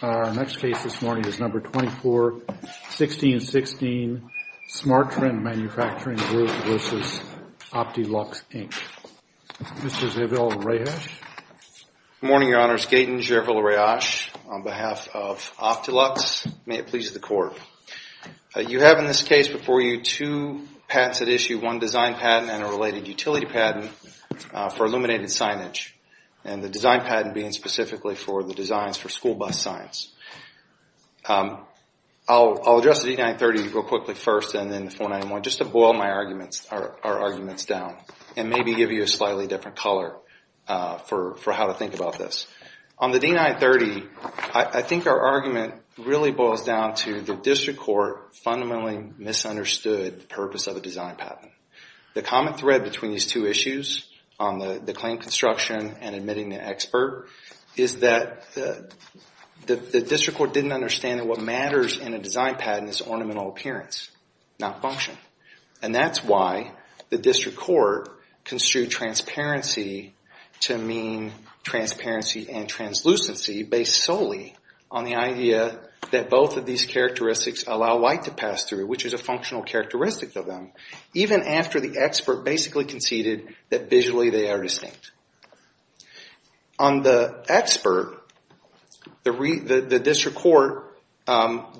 Our next case this morning is No. 24, 1616, SMG, Inc. v. Opti-Luxx, Inc. Mr. Zevil Rayash. Good morning, Your Honors. Gaten Zevil Rayash on behalf of Opti-Luxx, may it please the Court. You have in this case before you two patents that issue one design patent and a related utility patent for illuminated signage, and the design patent being specifically for the designs for school bus signs. I'll address the D-930 real quickly first and then the 491 just to boil our arguments down and maybe give you a slightly different color for how to think about this. On the D-930, I think our argument really boils down to the District Court fundamentally misunderstood the purpose of the design patent. The common thread between these two issues on the claim construction and admitting the expert is that the District Court didn't understand that what matters in a design patent is ornamental appearance, not function. And that's why the District Court construed transparency to mean transparency and translucency based solely on the idea that both of these characteristics allow light to pass through, which is a functional characteristic of them, even after the expert basically conceded that visually they are distinct. On the expert, the District Court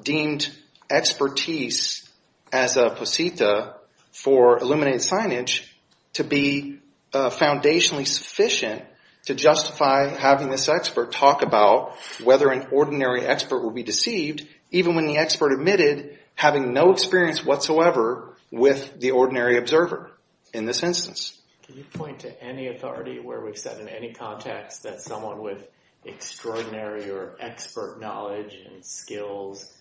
deemed expertise as a posita for illuminated signage to be foundationally sufficient to justify having this expert talk about whether an ordinary expert will be deceived, even when the expert admitted having no experience whatsoever with the ordinary observer in this instance. Can you point to any authority where we've said in any context that someone with extraordinary or expert knowledge and skills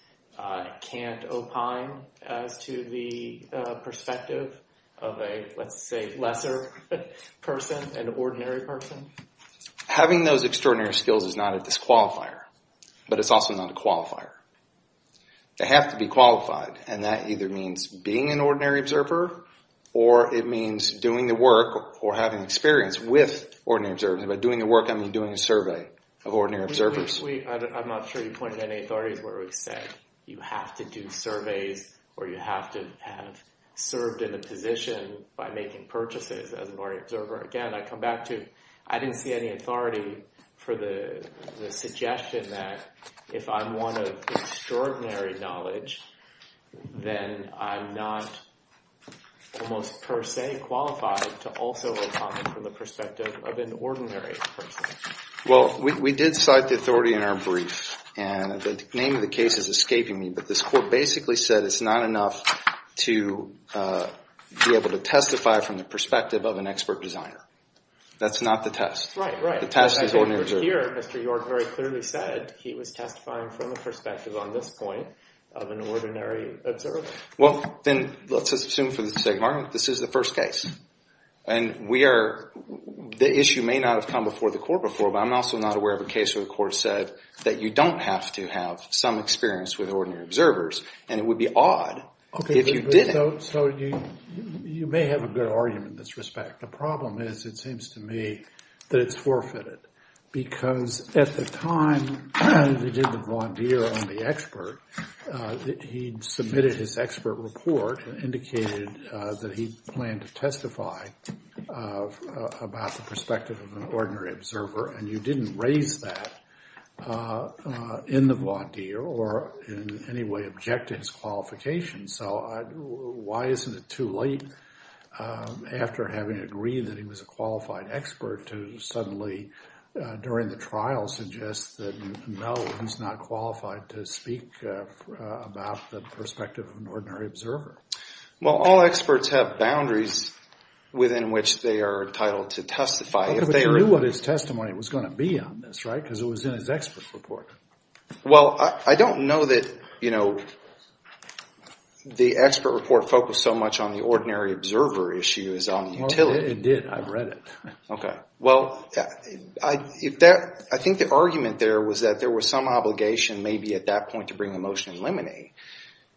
can't opine as to the perspective of a, let's say, lesser person, an ordinary person? Having those extraordinary skills is not a disqualifier, but it's also not a qualifier. They have to be qualified, and that either means being an ordinary observer or it means doing the work or having experience with ordinary observers. By doing the work, I mean doing a survey of ordinary observers. I'm not sure you pointed to any authorities where we've said you have to do surveys or you have to have served in a position by making purchases as an ordinary observer. Again, I come back to, I didn't see any authority for the suggestion that if I'm one of extraordinary knowledge, then I'm not almost per se qualified to also opine from the perspective of an ordinary person. Well, we did cite the authority in our brief, and the name of the case is escaping me, but this court basically said it's not enough to be able to testify from the perspective of an expert designer. That's not the test. Right, right. The test is ordinary observers. Here, Mr. York very clearly said he was testifying from the perspective on this point of an ordinary observer. Well, then let's assume for the sake of argument, this is the first case, and we are, the issue may not have come before the court before, but I'm also not aware of a case where the court said that you don't have to have some experience with ordinary observers, and it would be odd if you didn't. So you may have a good argument in this respect. The problem is, it seems to me, that it's forfeited, because at the time, they did the Von Deer on the expert, he'd submitted his expert report and indicated that he planned to testify about the perspective of an ordinary observer, and you didn't raise that in the Von Deer or in any way object to his qualifications. So why isn't it too late, after having agreed that he was a qualified expert, to suddenly during the trial suggest that, no, he's not qualified to speak about the perspective of an ordinary observer? Well, all experts have boundaries within which they are entitled to testify. But you knew what his testimony was going to be on this, right? Because it was in his expert report. Well, I don't know that the expert report focused so much on the ordinary observer issue as on the utility. It did. I've read it. OK. Well, I think the argument there was that there was some obligation, maybe at that point, to bring a motion and eliminate.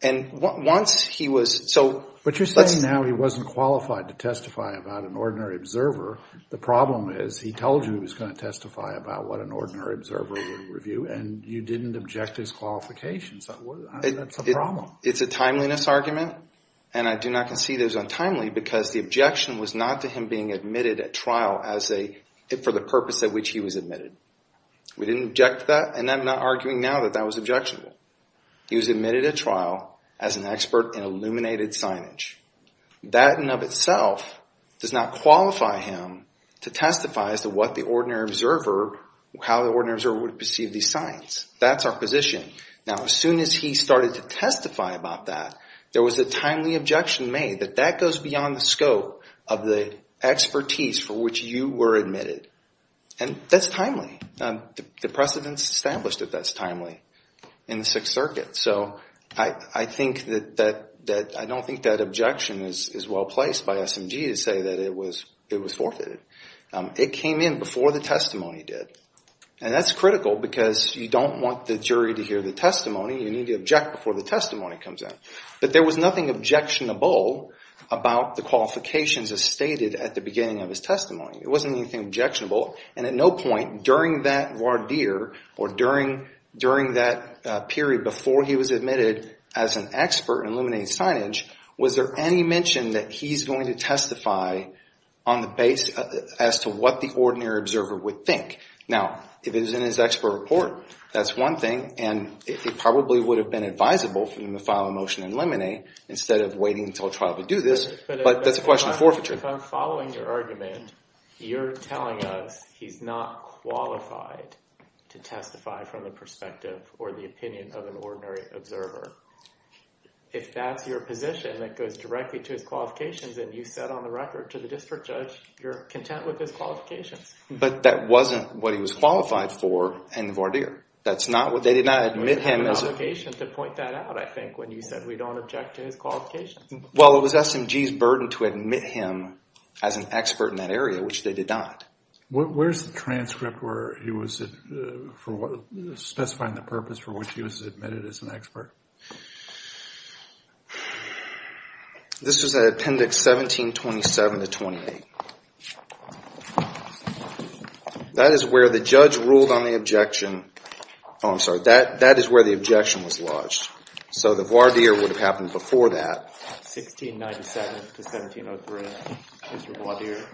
And once he was, so let's- But you're saying now he wasn't qualified to testify about an ordinary observer. The problem is, he told you he was going to testify about what an ordinary observer would review, and you didn't object to his qualifications. That's a problem. It's a timeliness argument, and I do not concede it was untimely, because the objection was not to him being admitted at trial for the purpose at which he was admitted. We didn't object to that, and I'm not arguing now that that was objectionable. He was admitted at trial as an expert in illuminated signage. That in and of itself does not qualify him to testify as to what the ordinary observer, how the ordinary observer would perceive these signs. That's our position. Now, as soon as he started to testify about that, there was a timely objection made that that goes beyond the scope of the expertise for which you were admitted. And that's timely. The precedents established that that's timely in the Sixth Circuit. So I think that, I don't think that objection is well placed by SMG to say that it was forfeited. It came in before the testimony did, and that's critical because you don't want the jury to hear the testimony. You need to object before the testimony comes in. But there was nothing objectionable about the qualifications as stated at the beginning of his testimony. It wasn't anything objectionable, and at no point during that voir dire, or during that period before he was admitted as an expert in illuminated signage, was there any mention that he's going to testify on the base as to what the ordinary observer would think. Now, if it was in his expert report, that's one thing, and it probably would have been advisable for him to file a motion and eliminate instead of waiting until trial to do this, but that's a question of forfeiture. But if I'm following your argument, you're telling us he's not qualified to testify from the perspective or the opinion of an ordinary observer. If that's your position, that goes directly to his qualifications, and you said on the record to the district judge, you're content with his qualifications. But that wasn't what he was qualified for in the voir dire. That's not what, they did not admit him as a- We have an obligation to point that out, I think, when you said we don't object to his qualifications. Well, it was SMG's burden to admit him as an expert in that area, which they did not. Where's the transcript where he was, specifying the purpose for which he was admitted as an expert? This was at appendix 1727 to 28. That is where the judge ruled on the objection, oh, I'm sorry, that is where the objection was lodged. So the voir dire would have happened before that. 1697 to 1703 is the voir dire.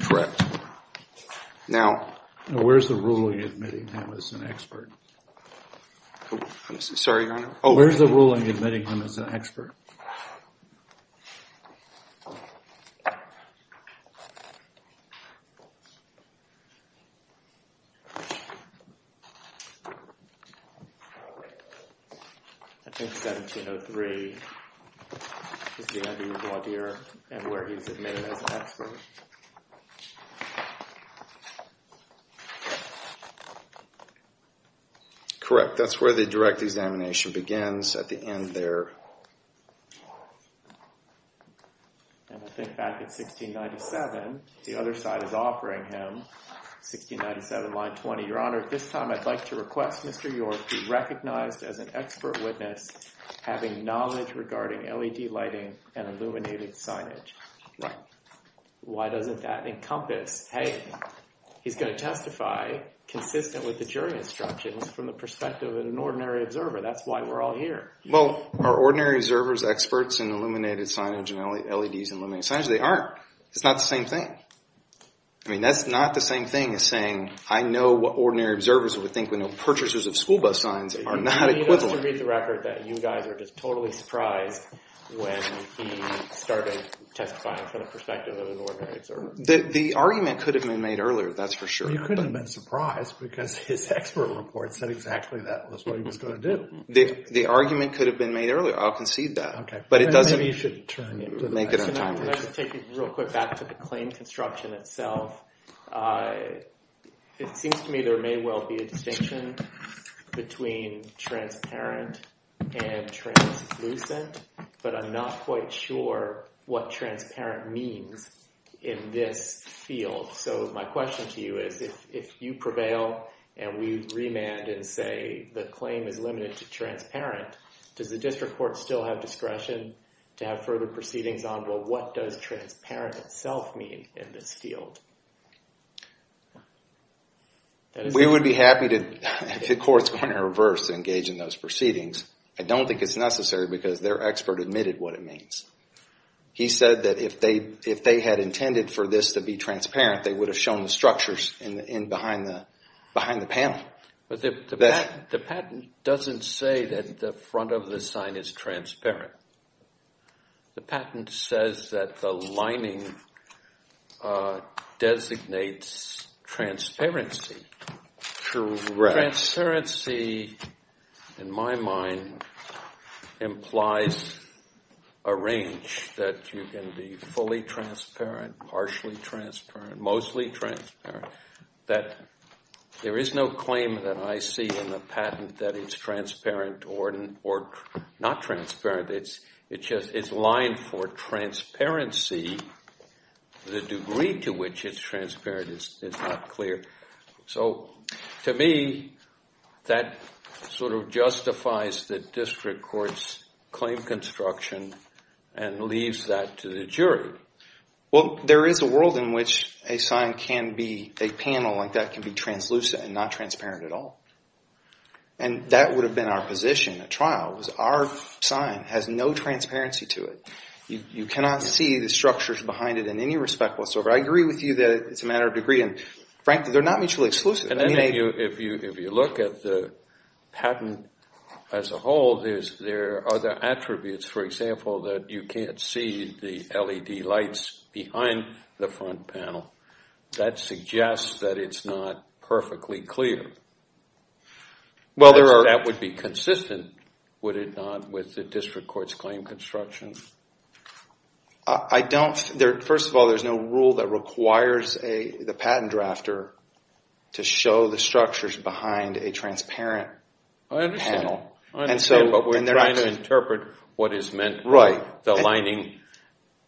Correct. Now, where's the ruling admitting him as an expert? I'm sorry, Your Honor? Where's the ruling admitting him as an expert? I think 1703 is the end of the voir dire, and where he's admitted as an expert. Correct. That's where the direct examination begins, at the end there. And I think back at 1697, the other side is offering him, 1697 line 20, Your Honor, this time I'd like to request Mr. York be recognized as an expert witness, having knowledge regarding LED lighting and illuminated signage. Why doesn't that encompass, hey, he's going to testify consistent with the jury instructions from the perspective of an ordinary observer. That's why we're all here. Well, are ordinary observers experts in illuminated signage and LEDs and illuminated signage? They aren't. It's not the same thing. I mean, that's not the same thing as saying, I know what ordinary observers would think when they're purchasers of school bus signs are not equivalent. You need us to read the record that you guys are just totally surprised when he started testifying from the perspective of an ordinary observer. The argument could have been made earlier, that's for sure. Well, you couldn't have been surprised because his expert report said exactly that was what he was going to do. The argument could have been made earlier. I'll concede that. But it doesn't... Maybe you should turn it... Make it untimely. Can I just take it real quick back to the claim construction itself? It seems to me there may well be a distinction between transparent and translucent, but I'm not quite sure what transparent means in this field. My question to you is, if you prevail and we remand and say the claim is limited to transparent, does the district court still have discretion to have further proceedings on what does transparent itself mean in this field? We would be happy to, if the court's going to reverse, engage in those proceedings. I don't think it's necessary because their expert admitted what it means. He said that if they had intended for this to be transparent, they would have shown the structures behind the panel. The patent doesn't say that the front of the sign is transparent. The patent says that the lining designates transparency. Correct. Transparency, in my mind, implies a range that can be fully transparent, partially transparent, mostly transparent, that there is no claim that I see in the patent that it's transparent or not transparent. It's just... It's lined for transparency. The degree to which it's transparent is not clear. So, to me, that sort of justifies the district court's claim construction and leaves that to the jury. Well, there is a world in which a panel like that can be translucent and not transparent at all. That would have been our position at trial, was our sign has no transparency to it. You cannot see the structures behind it in any respect whatsoever. I agree with you that it's a matter of degree, and frankly, they're not mutually exclusive. If you look at the patent as a whole, there are other attributes. For example, that you can't see the LED lights behind the front panel. That suggests that it's not perfectly clear. That would be consistent, would it not, with the district court's claim construction? I don't... First of all, there's no rule that requires the patent drafter to show the structures behind a transparent panel. I understand, but we're trying to interpret what is meant by the lining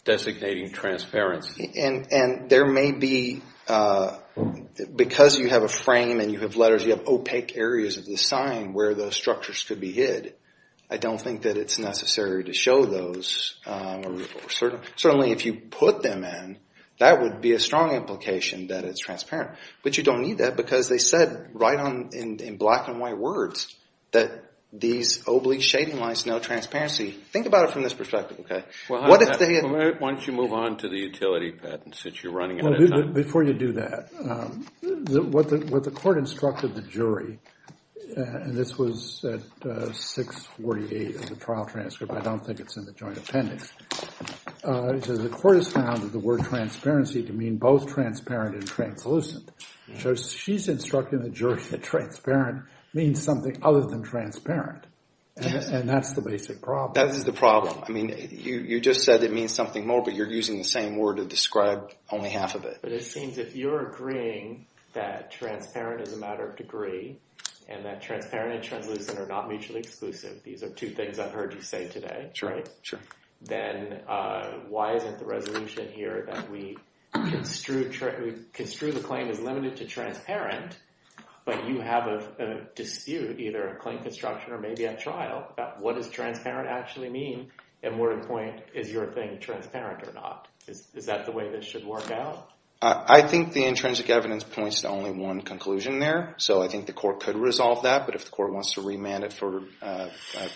designating transparency. And there may be... Because you have a frame and you have letters, you have opaque areas of the sign where the structures could be hid. I don't think that it's necessary to show those. Certainly if you put them in, that would be a strong implication that it's transparent. But you don't need that because they said right on in black and white words that these oblique shading lines know transparency. Think about it from this perspective, okay? What if they... Why don't you move on to the utility patents since you're running out of time? Before you do that, what the court instructed the jury... And this was at 648 of the trial transcript. I don't think it's in the joint appendix. It says the court has found that the word transparency can mean both transparent and translucent. So she's instructing the jury that transparent means something other than transparent. And that's the basic problem. That is the problem. I mean, you just said it means something more, but you're using the same word to describe only half of it. But it seems if you're agreeing that transparent is a matter of degree and that transparent and translucent are not mutually exclusive, these are two things I've heard you say today, right? Sure. Then why isn't the resolution here that we construe the claim as limited to transparent, but you have a dispute either in claim construction or maybe at trial about what does transparent actually mean? And more important, is your thing transparent or not? Is that the way this should work out? I think the intrinsic evidence points to only one conclusion there, so I think the court could resolve that. But if the court wants to remand it for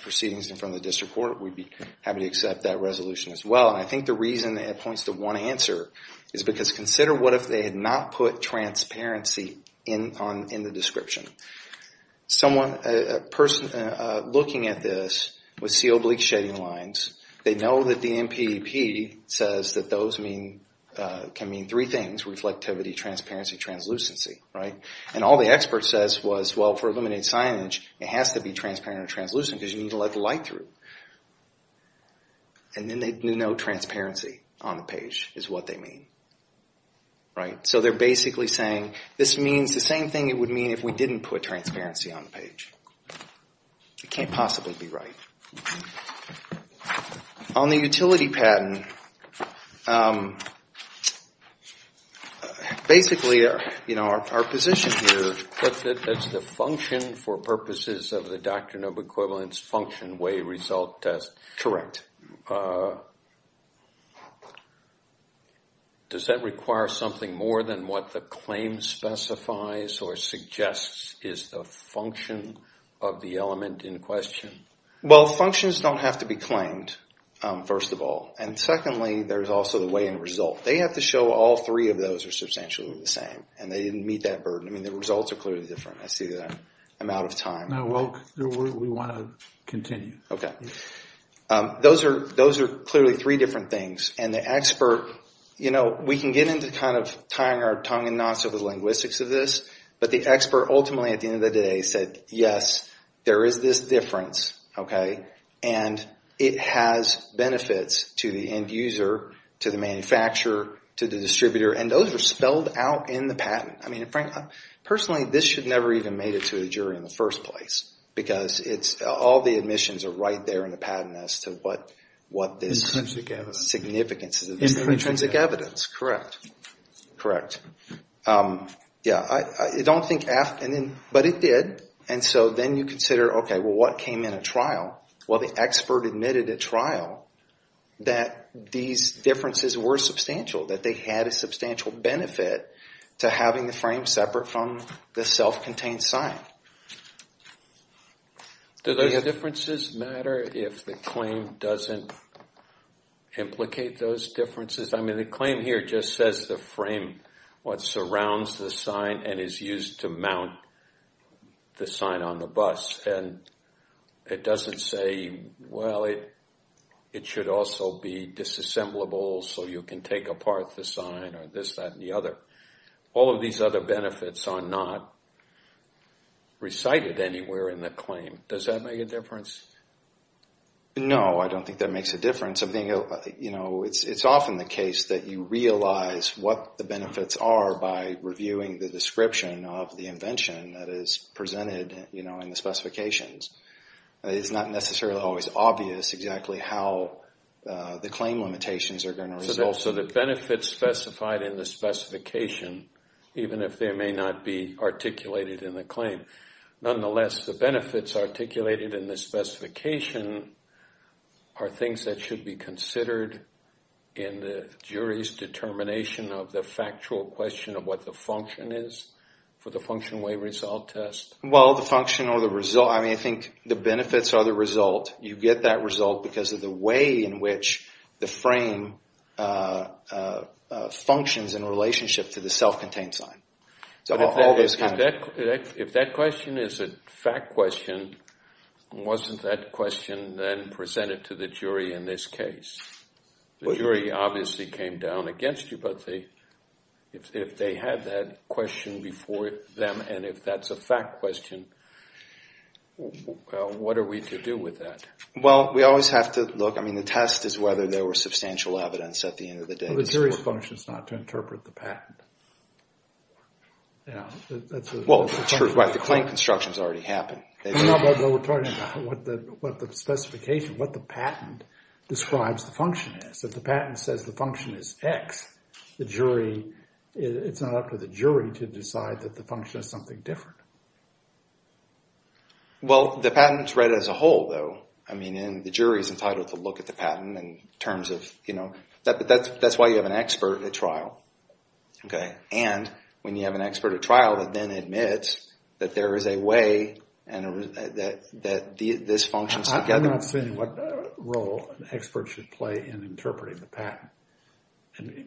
proceedings in front of the district court, we'd be happy to accept that resolution as well. And I think the reason it points to one answer is because consider what if they had not put transparency in the description. A person looking at this would see oblique shading lines. They know that the NPP says that those can mean three things, reflectivity, transparency, translucency, right? And all the expert says was, well, for illuminated signage, it has to be transparent or translucent because you need to let the light through. And then they'd know transparency on the page is what they mean, right? So they're basically saying this means the same thing it would mean if we didn't put transparency on the page. It can't possibly be right. On the utility patent, basically our position here is that it's the function for purposes of the Doctrine of Equivalence function way result test. Does that require something more than what the claim specifies or suggests is the function of the element in question? Well, functions don't have to be claimed, first of all. And secondly, there's also the way in result. They have to show all three of those are substantially the same. And they didn't meet that burden. I mean, the results are clearly different. I see that I'm out of time. No, we want to continue. Okay. Those are clearly three different things. And the expert, you know, we can get into kind of tying our tongue in knots with the linguistics of this. But the expert ultimately at the end of the day said, yes, there is this difference. And it has benefits to the end user, to the manufacturer, to the distributor. And those are spelled out in the patent. I mean, personally, this should never even have made it to a jury in the first place. Because all the admissions are right there in the patent as to what this significance is. Intrinsic evidence. Correct. Correct. Yeah. I don't think after. But it did. And so then you consider, okay, well, what came in a trial? Well, the expert admitted at trial that these differences were substantial. That they had a substantial benefit to having the frame separate from the self-contained sign. Do those differences matter if the claim doesn't implicate those differences? I mean, the claim here just says the frame what surrounds the sign and is used to mount the sign on the bus. And it doesn't say, well, it should also be disassemblable so you can take apart the sign or this, that, and the other. All of these other benefits are not recited anywhere in the claim. Does that make a difference? No, I don't think that makes a difference. It's often the case that you realize what the benefits are by reviewing the description of the invention that is presented in the specifications. It's not necessarily always obvious exactly how the claim limitations are going to result. So the benefits specified in the specification, even if they may not be articulated in the claim, nonetheless, the benefits articulated in the specification are things that should be considered in the jury's determination of the factual question of what the function is for the function-way result test. Well, the function or the result, I mean, I think the benefits are the result. You get that result because of the way in which the frame functions in relationship to the self-contained sign. If that question is a fact question, wasn't that question then presented to the jury in this case? The jury obviously came down against you, but if they had that question before them and if that's a fact question, what are we to do with that? Well, we always have to look. I mean, the test is whether there was substantial evidence at the end of the day. Well, the jury's function is not to interpret the patent. Well, the claim construction has already happened. No, but we're talking about what the specification, what the patent describes the function is. If the patent says the function is X, it's not up to the jury to decide that the function is something different. Well, the patent is read as a whole, though. I mean, the jury is entitled to look at the patent in terms of, you know. But that's why you have an expert at trial. And when you have an expert at trial that then admits that there is a way that this functions together. I'm not saying what role an expert should play in interpreting the patent.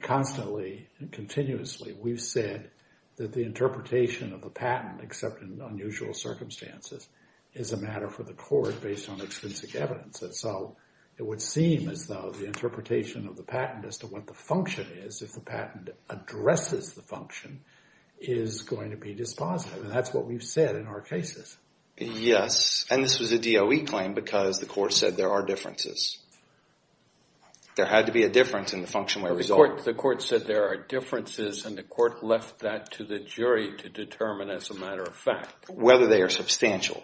Constantly and continuously, we've said that the interpretation of the patent, except in unusual circumstances, is a matter for the court based on extrinsic evidence. So it would seem as though the interpretation of the patent as to what the function is, if the patent addresses the function, is going to be dispositive. And that's what we've said in our cases. Yes, and this was a DOE claim because the court said there are differences. There had to be a difference in the function where it was ordered. The court said there are differences, and the court left that to the jury to determine as a matter of fact. Whether they are substantial.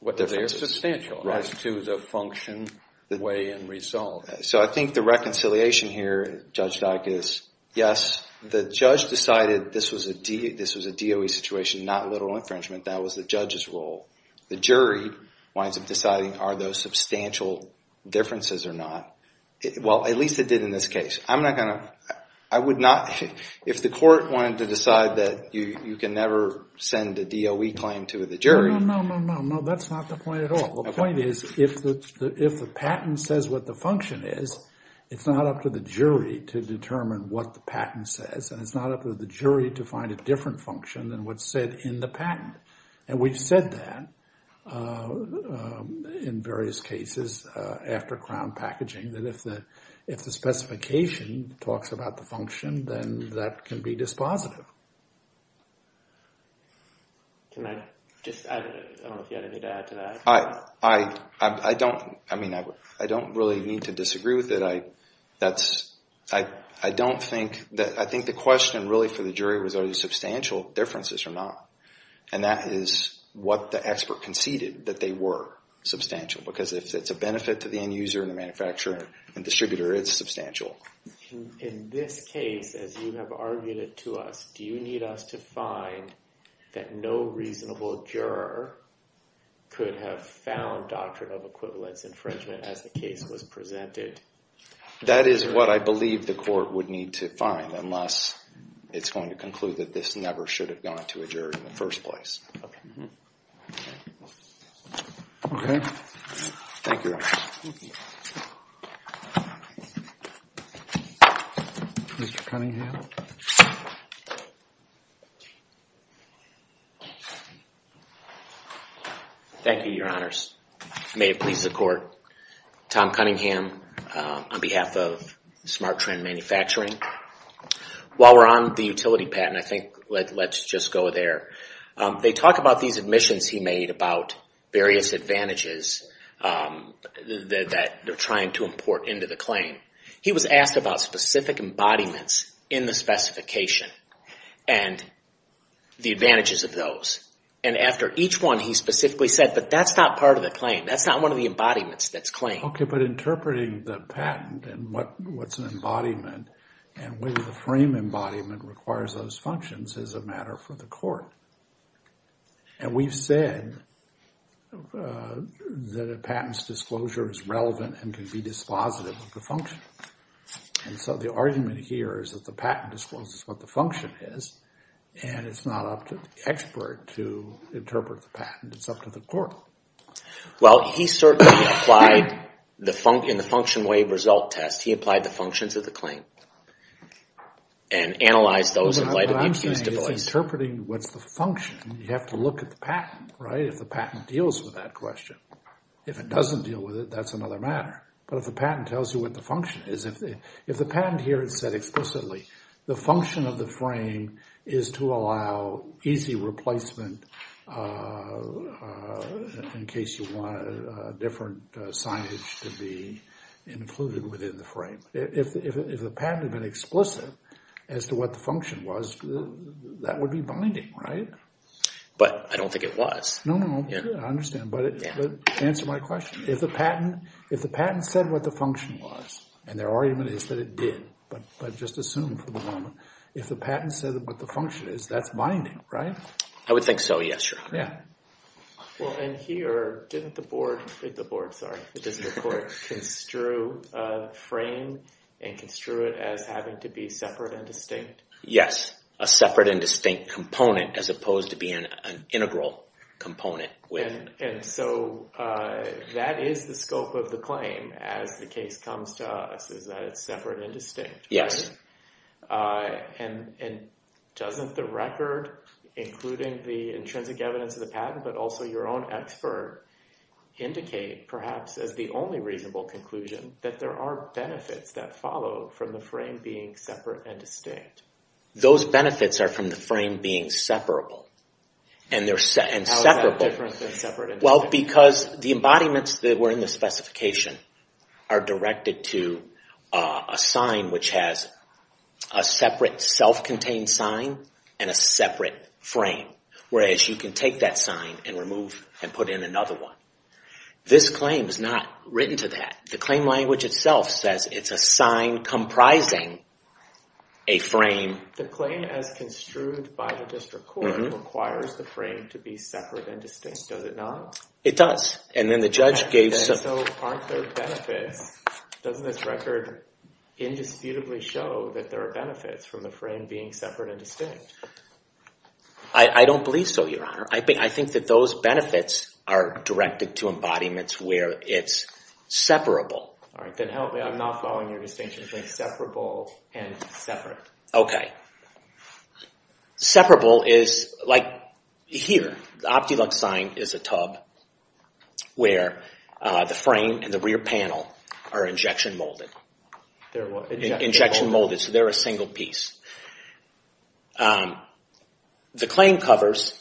Whether they are substantial as to the function, way, and result. So I think the reconciliation here, Judge Dyck, is yes, the judge decided this was a DOE situation, not literal infringement. That was the judge's role. The jury winds up deciding are those substantial differences or not. Well, at least it did in this case. I'm not going to, I would not, if the court wanted to decide that you can never send a DOE claim to the jury. No, no, no, no, that's not the point at all. The point is if the patent says what the function is, it's not up to the jury to determine what the patent says. And it's not up to the jury to find a different function than what's said in the patent. And we've said that in various cases after crown packaging. That if the specification talks about the function, then that can be dispositive. Can I just add, I don't know if you had anything to add to that. I don't, I mean, I don't really need to disagree with it. I don't think, I think the question really for the jury was are these substantial differences or not. And that is what the expert conceded, that they were substantial. Because if it's a benefit to the end user and the manufacturer and distributor, it's substantial. In this case, as you have argued it to us, do you need us to find that no reasonable juror could have found Doctrine of Equivalence infringement as the case was presented? That is what I believe the court would need to find, unless it's going to conclude that this never should have gone to a juror in the first place. Okay. Thank you. Mr. Cunningham. Thank you, your honors. May it please the court. Tom Cunningham on behalf of Smart Trend Manufacturing. While we're on the utility patent, I think let's just go there. They talk about these admissions he made about various advantages that they're trying to import into the claim. He was asked about specific embodiments in the specification and the advantages of those. And after each one, he specifically said, but that's not part of the claim. That's not one of the embodiments that's claimed. Okay, but interpreting the patent and what's an embodiment and whether the frame embodiment requires those functions is a matter for the court. And we've said that a patent's disclosure is relevant and can be dispositive of the function. And so the argument here is that the patent discloses what the function is, and it's not up to the expert to interpret the patent. It's up to the court. Well, he certainly applied in the function wave result test. He applied the functions of the claim and analyzed those in light of the accused device. Well, interpreting what's the function, you have to look at the patent, right, if the patent deals with that question. If it doesn't deal with it, that's another matter. But if the patent tells you what the function is, if the patent here is set explicitly, the function of the frame is to allow easy replacement in case you want a different signage to be included within the frame. If the patent had been explicit as to what the function was, that would be binding, right? But I don't think it was. No, no, I understand, but answer my question. If the patent said what the function was, and their argument is that it did, but just assume for the moment, if the patent said what the function is, that's binding, right? I would think so, yes, Your Honor. Well, and here, didn't the court construe a frame and construe it as having to be separate and distinct? Yes, a separate and distinct component as opposed to being an integral component. And so that is the scope of the claim as the case comes to us, is that it's separate and distinct, right? Yes. And doesn't the record, including the intrinsic evidence of the patent, but also your own expert, indicate, perhaps, as the only reasonable conclusion, that there are benefits that follow from the frame being separate and distinct? Those benefits are from the frame being separable. How is that different than separate and distinct? Well, because the embodiments that were in the specification are directed to a sign which has a separate self-contained sign and a separate frame, whereas you can take that sign and remove and put in another one. This claim is not written to that. The claim language itself says it's a sign comprising a frame. The claim as construed by the district court requires the frame to be separate and distinct, does it not? It does. And then the judge gave some... And so aren't there benefits? Doesn't this record indisputably show that there are benefits from the frame being separate and distinct? I don't believe so, Your Honor. I think that those benefits are directed to embodiments where it's separable. All right, then help me. I'm not following your distinction between separable and separate. Okay. Separable is like here. The OptiLux sign is a tub where the frame and the rear panel are injection molded. Injection molded, so they're a single piece. The claim covers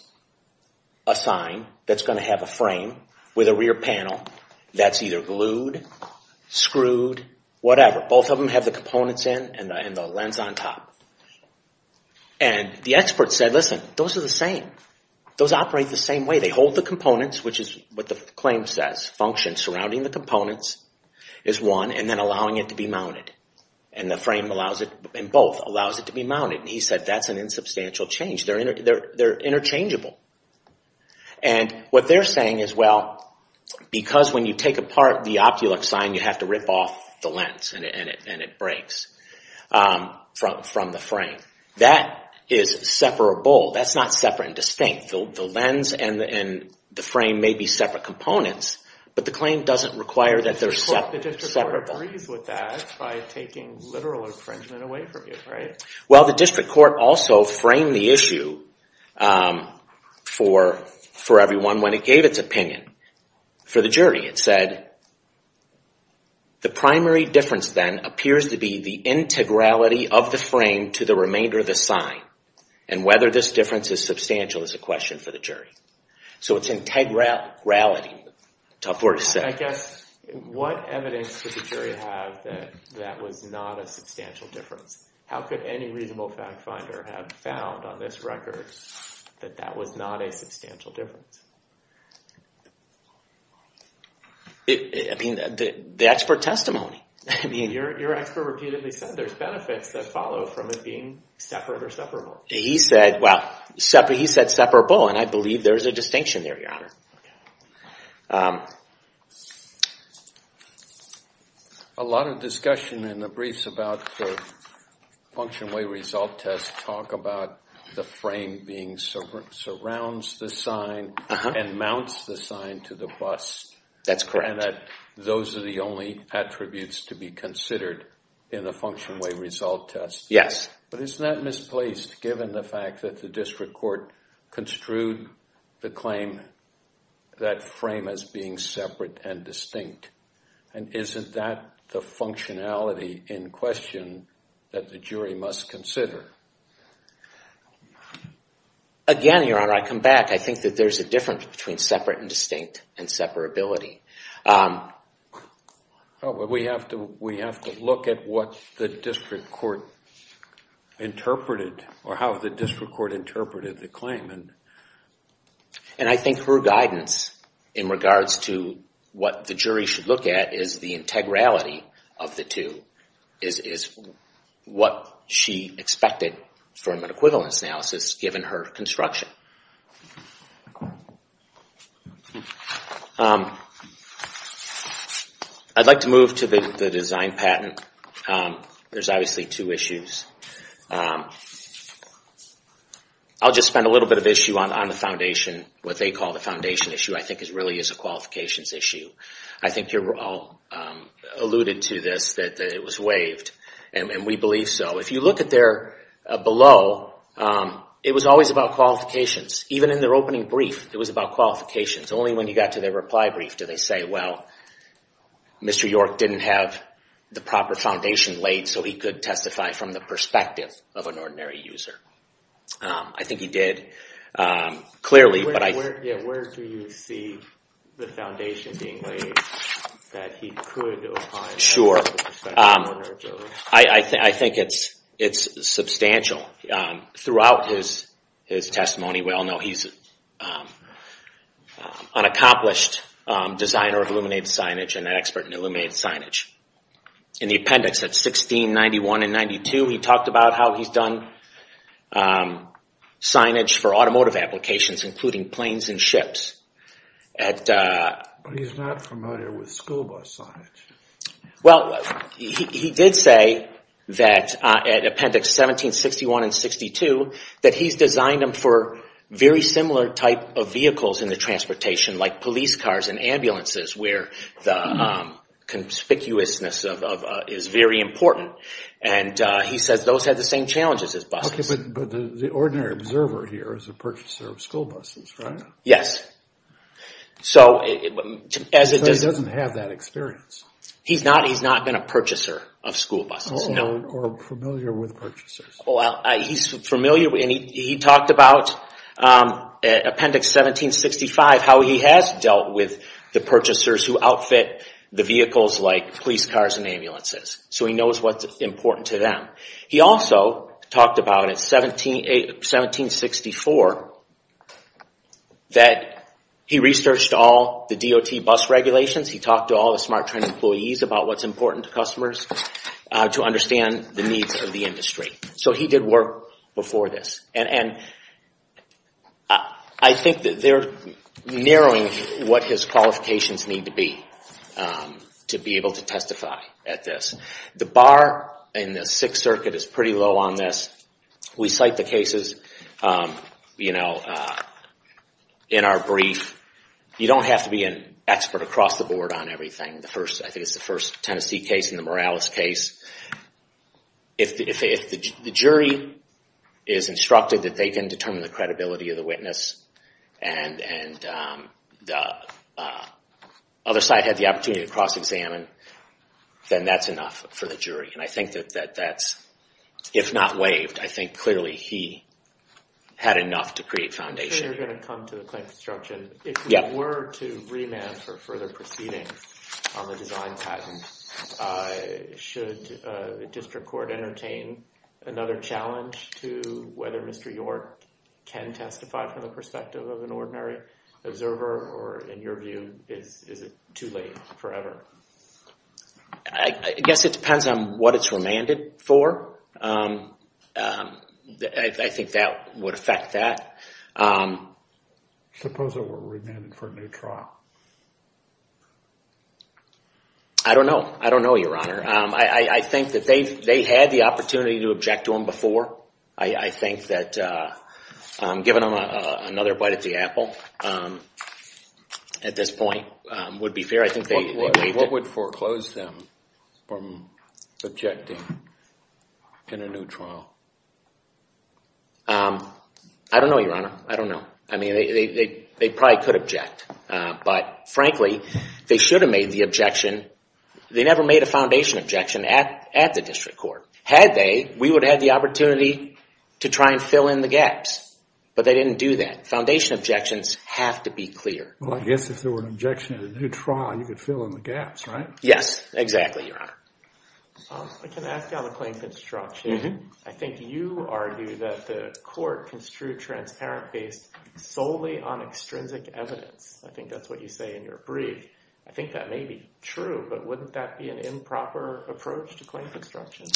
a sign that's going to have a frame with a rear panel that's either glued, screwed, whatever. Both of them have the components in and the lens on top. And the expert said, listen, those are the same. Those operate the same way. They hold the components, which is what the claim says. Function surrounding the components is one and then allowing it to be mounted. And the frame allows it and both allows it to be mounted. And he said that's an insubstantial change. They're interchangeable. And what they're saying is, well, because when you take apart the OptiLux sign, you have to rip off the lens and it breaks from the frame. That is separable. That's not separate and distinct. The lens and the frame may be separate components, but the claim doesn't require that they're separable. The district court agrees with that by taking literal infringement away from you, right? Well, the district court also framed the issue for everyone when it gave its opinion for the jury. It said, the primary difference then appears to be the integrality of the frame to the remainder of the sign. And whether this difference is substantial is a question for the jury. So it's integrality. Tough word to say. I guess, what evidence could the jury have that that was not a substantial difference? How could any reasonable fact finder have found on this record that that was not a substantial difference? I mean, the expert testimony. I mean, your expert repeatedly said there's benefits that follow from it being separate or separable. He said, well, he said separable. And I believe there is a distinction there, Your Honor. A lot of discussion in the briefs about the function way result test talk about the frame being separate, surrounds the sign, and mounts the sign to the bus. That's correct. And that those are the only attributes to be considered in a function way result test. Yes. But isn't that misplaced given the fact that the district court construed the claim that frame as being separate and distinct? And isn't that the functionality in question that the jury must consider? Again, Your Honor, I come back. I think that there's a difference between separate and distinct and separability. But we have to look at what the district court interpreted or how the district court interpreted the claim. And I think her guidance in regards to what the jury should look at is the integrality of the two is what she expected from an equivalence analysis given her construction. I'd like to move to the design patent. There's obviously two issues. I'll just spend a little bit of issue on the foundation, what they call the foundation issue. I think it really is a qualifications issue. I think you all alluded to this, that it was waived. And we believe so. If you look at there below, it was always about qualifications. Even in their opening brief, it was about qualifications. Only when you got to their reply brief did they say, well, Mr. York didn't have the proper foundation laid so he could testify from the perspective of an ordinary user. I think he did, clearly. Where do you see the foundation being laid that he could opine from the perspective of an ordinary user? I think it's substantial. Throughout his testimony, we all know he's an accomplished designer of illuminated signage and an expert in illuminated signage. In the appendix at 1691 and 92, he talked about how he's done signage for automotive applications, including planes and ships. But he's not familiar with school bus signage. He did say that at appendix 1761 and 62, that he's designed them for very similar type of vehicles in the transportation, like police cars and ambulances, where the conspicuousness is very important. He says those have the same challenges as buses. But the ordinary observer here is a purchaser of school buses, right? Yes. But he doesn't have that experience. He's not been a purchaser of school buses. Or familiar with purchasers. He's familiar. He talked about appendix 1765, how he has dealt with the purchasers who outfit the vehicles like police cars and ambulances. So he knows what's important to them. He also talked about, at 1764, that he researched all the DOT bus regulations. He talked to all the Smart Trend employees about what's important to customers to understand the needs of the industry. So he did work before this. And I think that they're narrowing what his qualifications need to be to be able to testify at this. The bar in the Sixth Circuit is pretty low on this. We cite the cases in our brief. You don't have to be an expert across the board on everything. I think it's the first Tennessee case and the Morales case. If the jury is instructed that they can determine the credibility of the witness, and the other side had the opportunity to cross-examine, then that's enough for the jury. And I think that that's, if not waived, I think clearly he had enough to create foundation. If we were to remand for further proceedings on the design patent, should the district court entertain another challenge to whether Mr. York can testify from the perspective of an ordinary observer? Or in your view, is it too late forever? I guess it depends on what it's remanded for. I think that would affect that. Suppose it were remanded for a new trial. I don't know. I don't know, Your Honor. I think that they had the opportunity to object to him before. I think that giving him another bite at the apple at this point would be fair. What would foreclose them from objecting in a new trial? I don't know, Your Honor. I don't know. I mean, they probably could object. But frankly, they should have made the objection. They never made a foundation objection at the district court. Had they, we would have had the opportunity to try and fill in the gaps. But they didn't do that. Foundation objections have to be clear. Well, I guess if there were an objection in a new trial, you could fill in the gaps, right? Yes, exactly, Your Honor. I can ask you on the claim construction. I think you argue that the court construed transparent based solely on extrinsic evidence. I think that's what you say in your brief. I think that may be true, but wouldn't that be an improper approach to claim construction?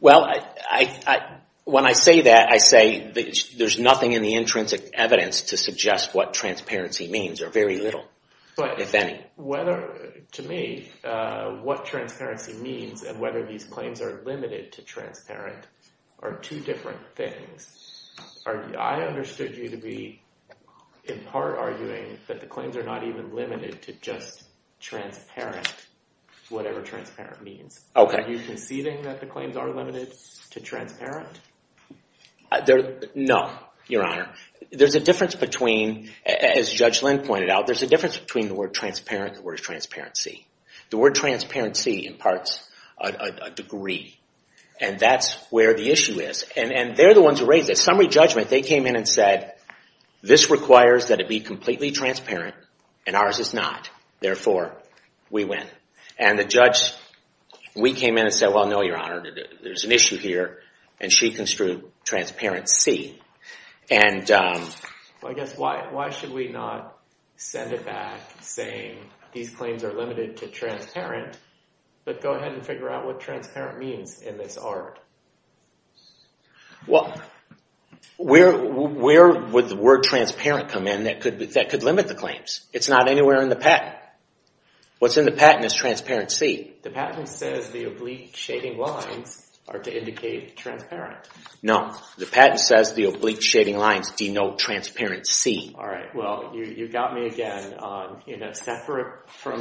Well, when I say that, I say there's nothing in the intrinsic evidence to suggest what transparency means. There are very little, if any. But to me, what transparency means and whether these claims are limited to transparent are two different things. I understood you to be in part arguing that the claims are not even limited to just transparent, whatever transparent means. Okay. Are you conceding that the claims are limited to transparent? No, Your Honor. There's a difference between, as Judge Lynn pointed out, there's a difference between the word transparent and the word transparency. The word transparency imparts a degree, and that's where the issue is. And they're the ones who raised it. At summary judgment, they came in and said, this requires that it be completely transparent, and ours is not. Therefore, we win. And the judge, we came in and said, well, no, Your Honor. There's an issue here, and she construed transparency. Well, I guess why should we not send it back saying these claims are limited to transparent, but go ahead and figure out what transparent means in this art? Well, where would the word transparent come in that could limit the claims? It's not anywhere in the patent. What's in the patent is transparency. The patent says the oblique shading lines are to indicate transparent. No. The patent says the oblique shading lines denote transparency. All right. Well, you got me again from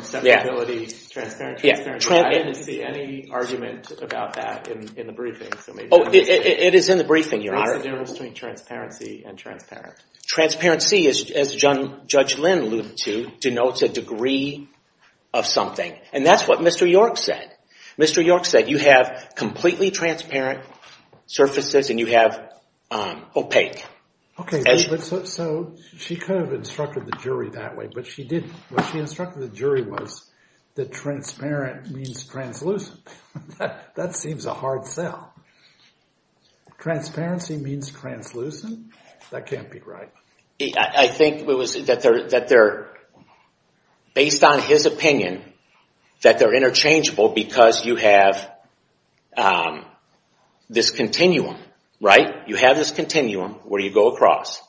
separability, transparent, transparency. I didn't see any argument about that in the briefing. Oh, it is in the briefing, Your Honor. What's the difference between transparency and transparent? Transparency, as Judge Lynn alluded to, denotes a degree of something. And that's what Mr. York said. Mr. York said you have completely transparent surfaces and you have opaque. Okay, so she could have instructed the jury that way, but she didn't. What she instructed the jury was that transparent means translucent. That seems a hard sell. Transparency means translucent? That can't be right. I think it was based on his opinion that they're interchangeable because you have this continuum, right? You have this continuum where you go across.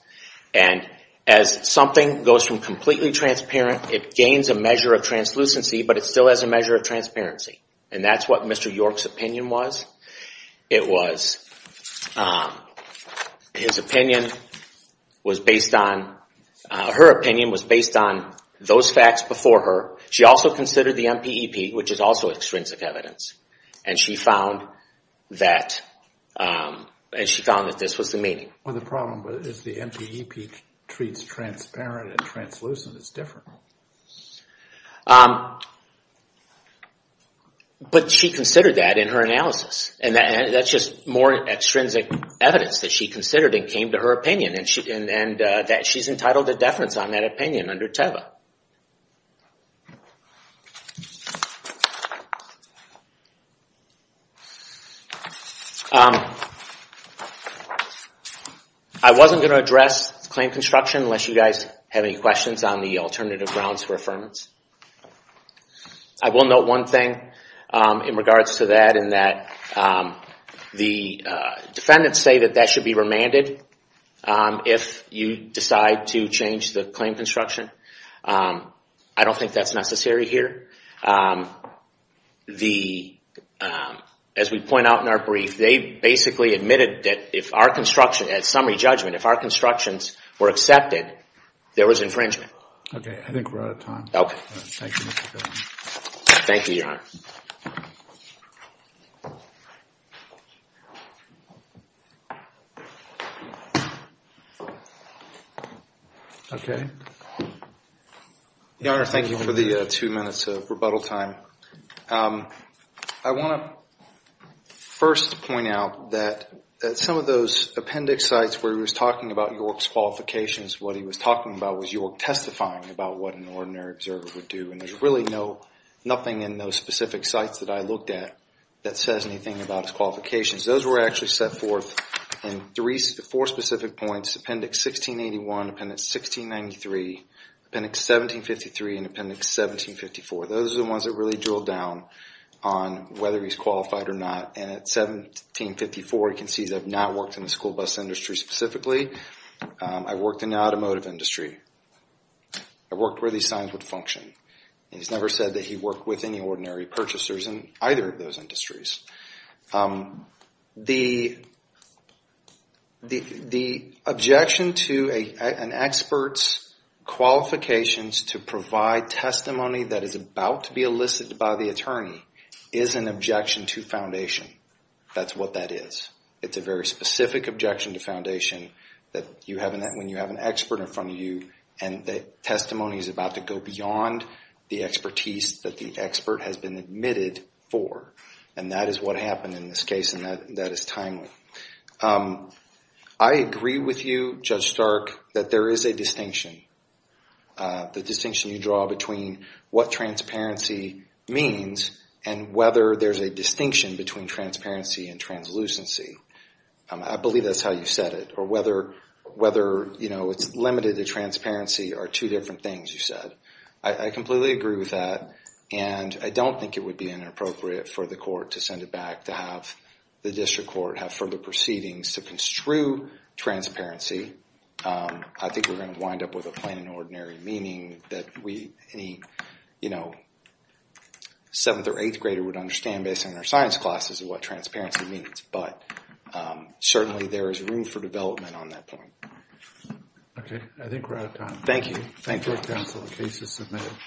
And as something goes from completely transparent, it gains a measure of translucency, but it still has a measure of transparency. And that's what Mr. York's opinion was. It was his opinion was based on – her opinion was based on those facts before her. She also considered the MPEP, which is also extrinsic evidence. And she found that this was the meaning. Well, the problem is the MPEP treats transparent and translucent. It's different. But she considered that in her analysis. And that's just more extrinsic evidence that she considered and came to her opinion. And she's entitled to deference on that opinion under TEVA. I wasn't going to address claim construction unless you guys have any questions on the alternative grounds for affirmance. I will note one thing in regards to that, in that the defendants say that that should be remanded if you decide to change the claim construction. I don't think that's necessary here. As we point out in our brief, they basically admitted that if our construction – in summary judgment, if our constructions were accepted, there was infringement. I think we're out of time. Thank you, Your Honor. Your Honor, thank you for the two minutes of rebuttal time. I want to first point out that some of those appendix sites where he was talking about York's qualifications, what he was talking about was York testifying about what an ordinary observer would do. And there's really nothing in those specific sites that I looked at that says anything about his qualifications. Those were actually set forth in four specific points, Appendix 1681, Appendix 1693, Appendix 1753, and Appendix 1754. Those are the ones that really drill down on whether he's qualified or not. And at 1754, you can see that I've not worked in the school bus industry specifically. I worked in the automotive industry. I worked where these signs would function. And he's never said that he worked with any ordinary purchasers in either of those industries. The objection to an expert's qualifications to provide testimony that is about to be elicited by the attorney is an objection to foundation. That's what that is. It's a very specific objection to foundation when you have an expert in front of you and the testimony is about to go beyond the expertise that the expert has been admitted for. And that is what happened in this case, and that is timely. I agree with you, Judge Stark, that there is a distinction. The distinction you draw between what transparency means and whether there's a distinction between transparency and translucency. I believe that's how you said it, or whether it's limited to transparency are two different things you said. I completely agree with that, and I don't think it would be inappropriate for the court to send it back to have the district court have further proceedings to construe transparency. I think we're going to wind up with a plain and ordinary meaning that any seventh or eighth grader would understand based on their science classes of what transparency means. But certainly there is room for development on that point. Okay. I think we're out of time. Thank you.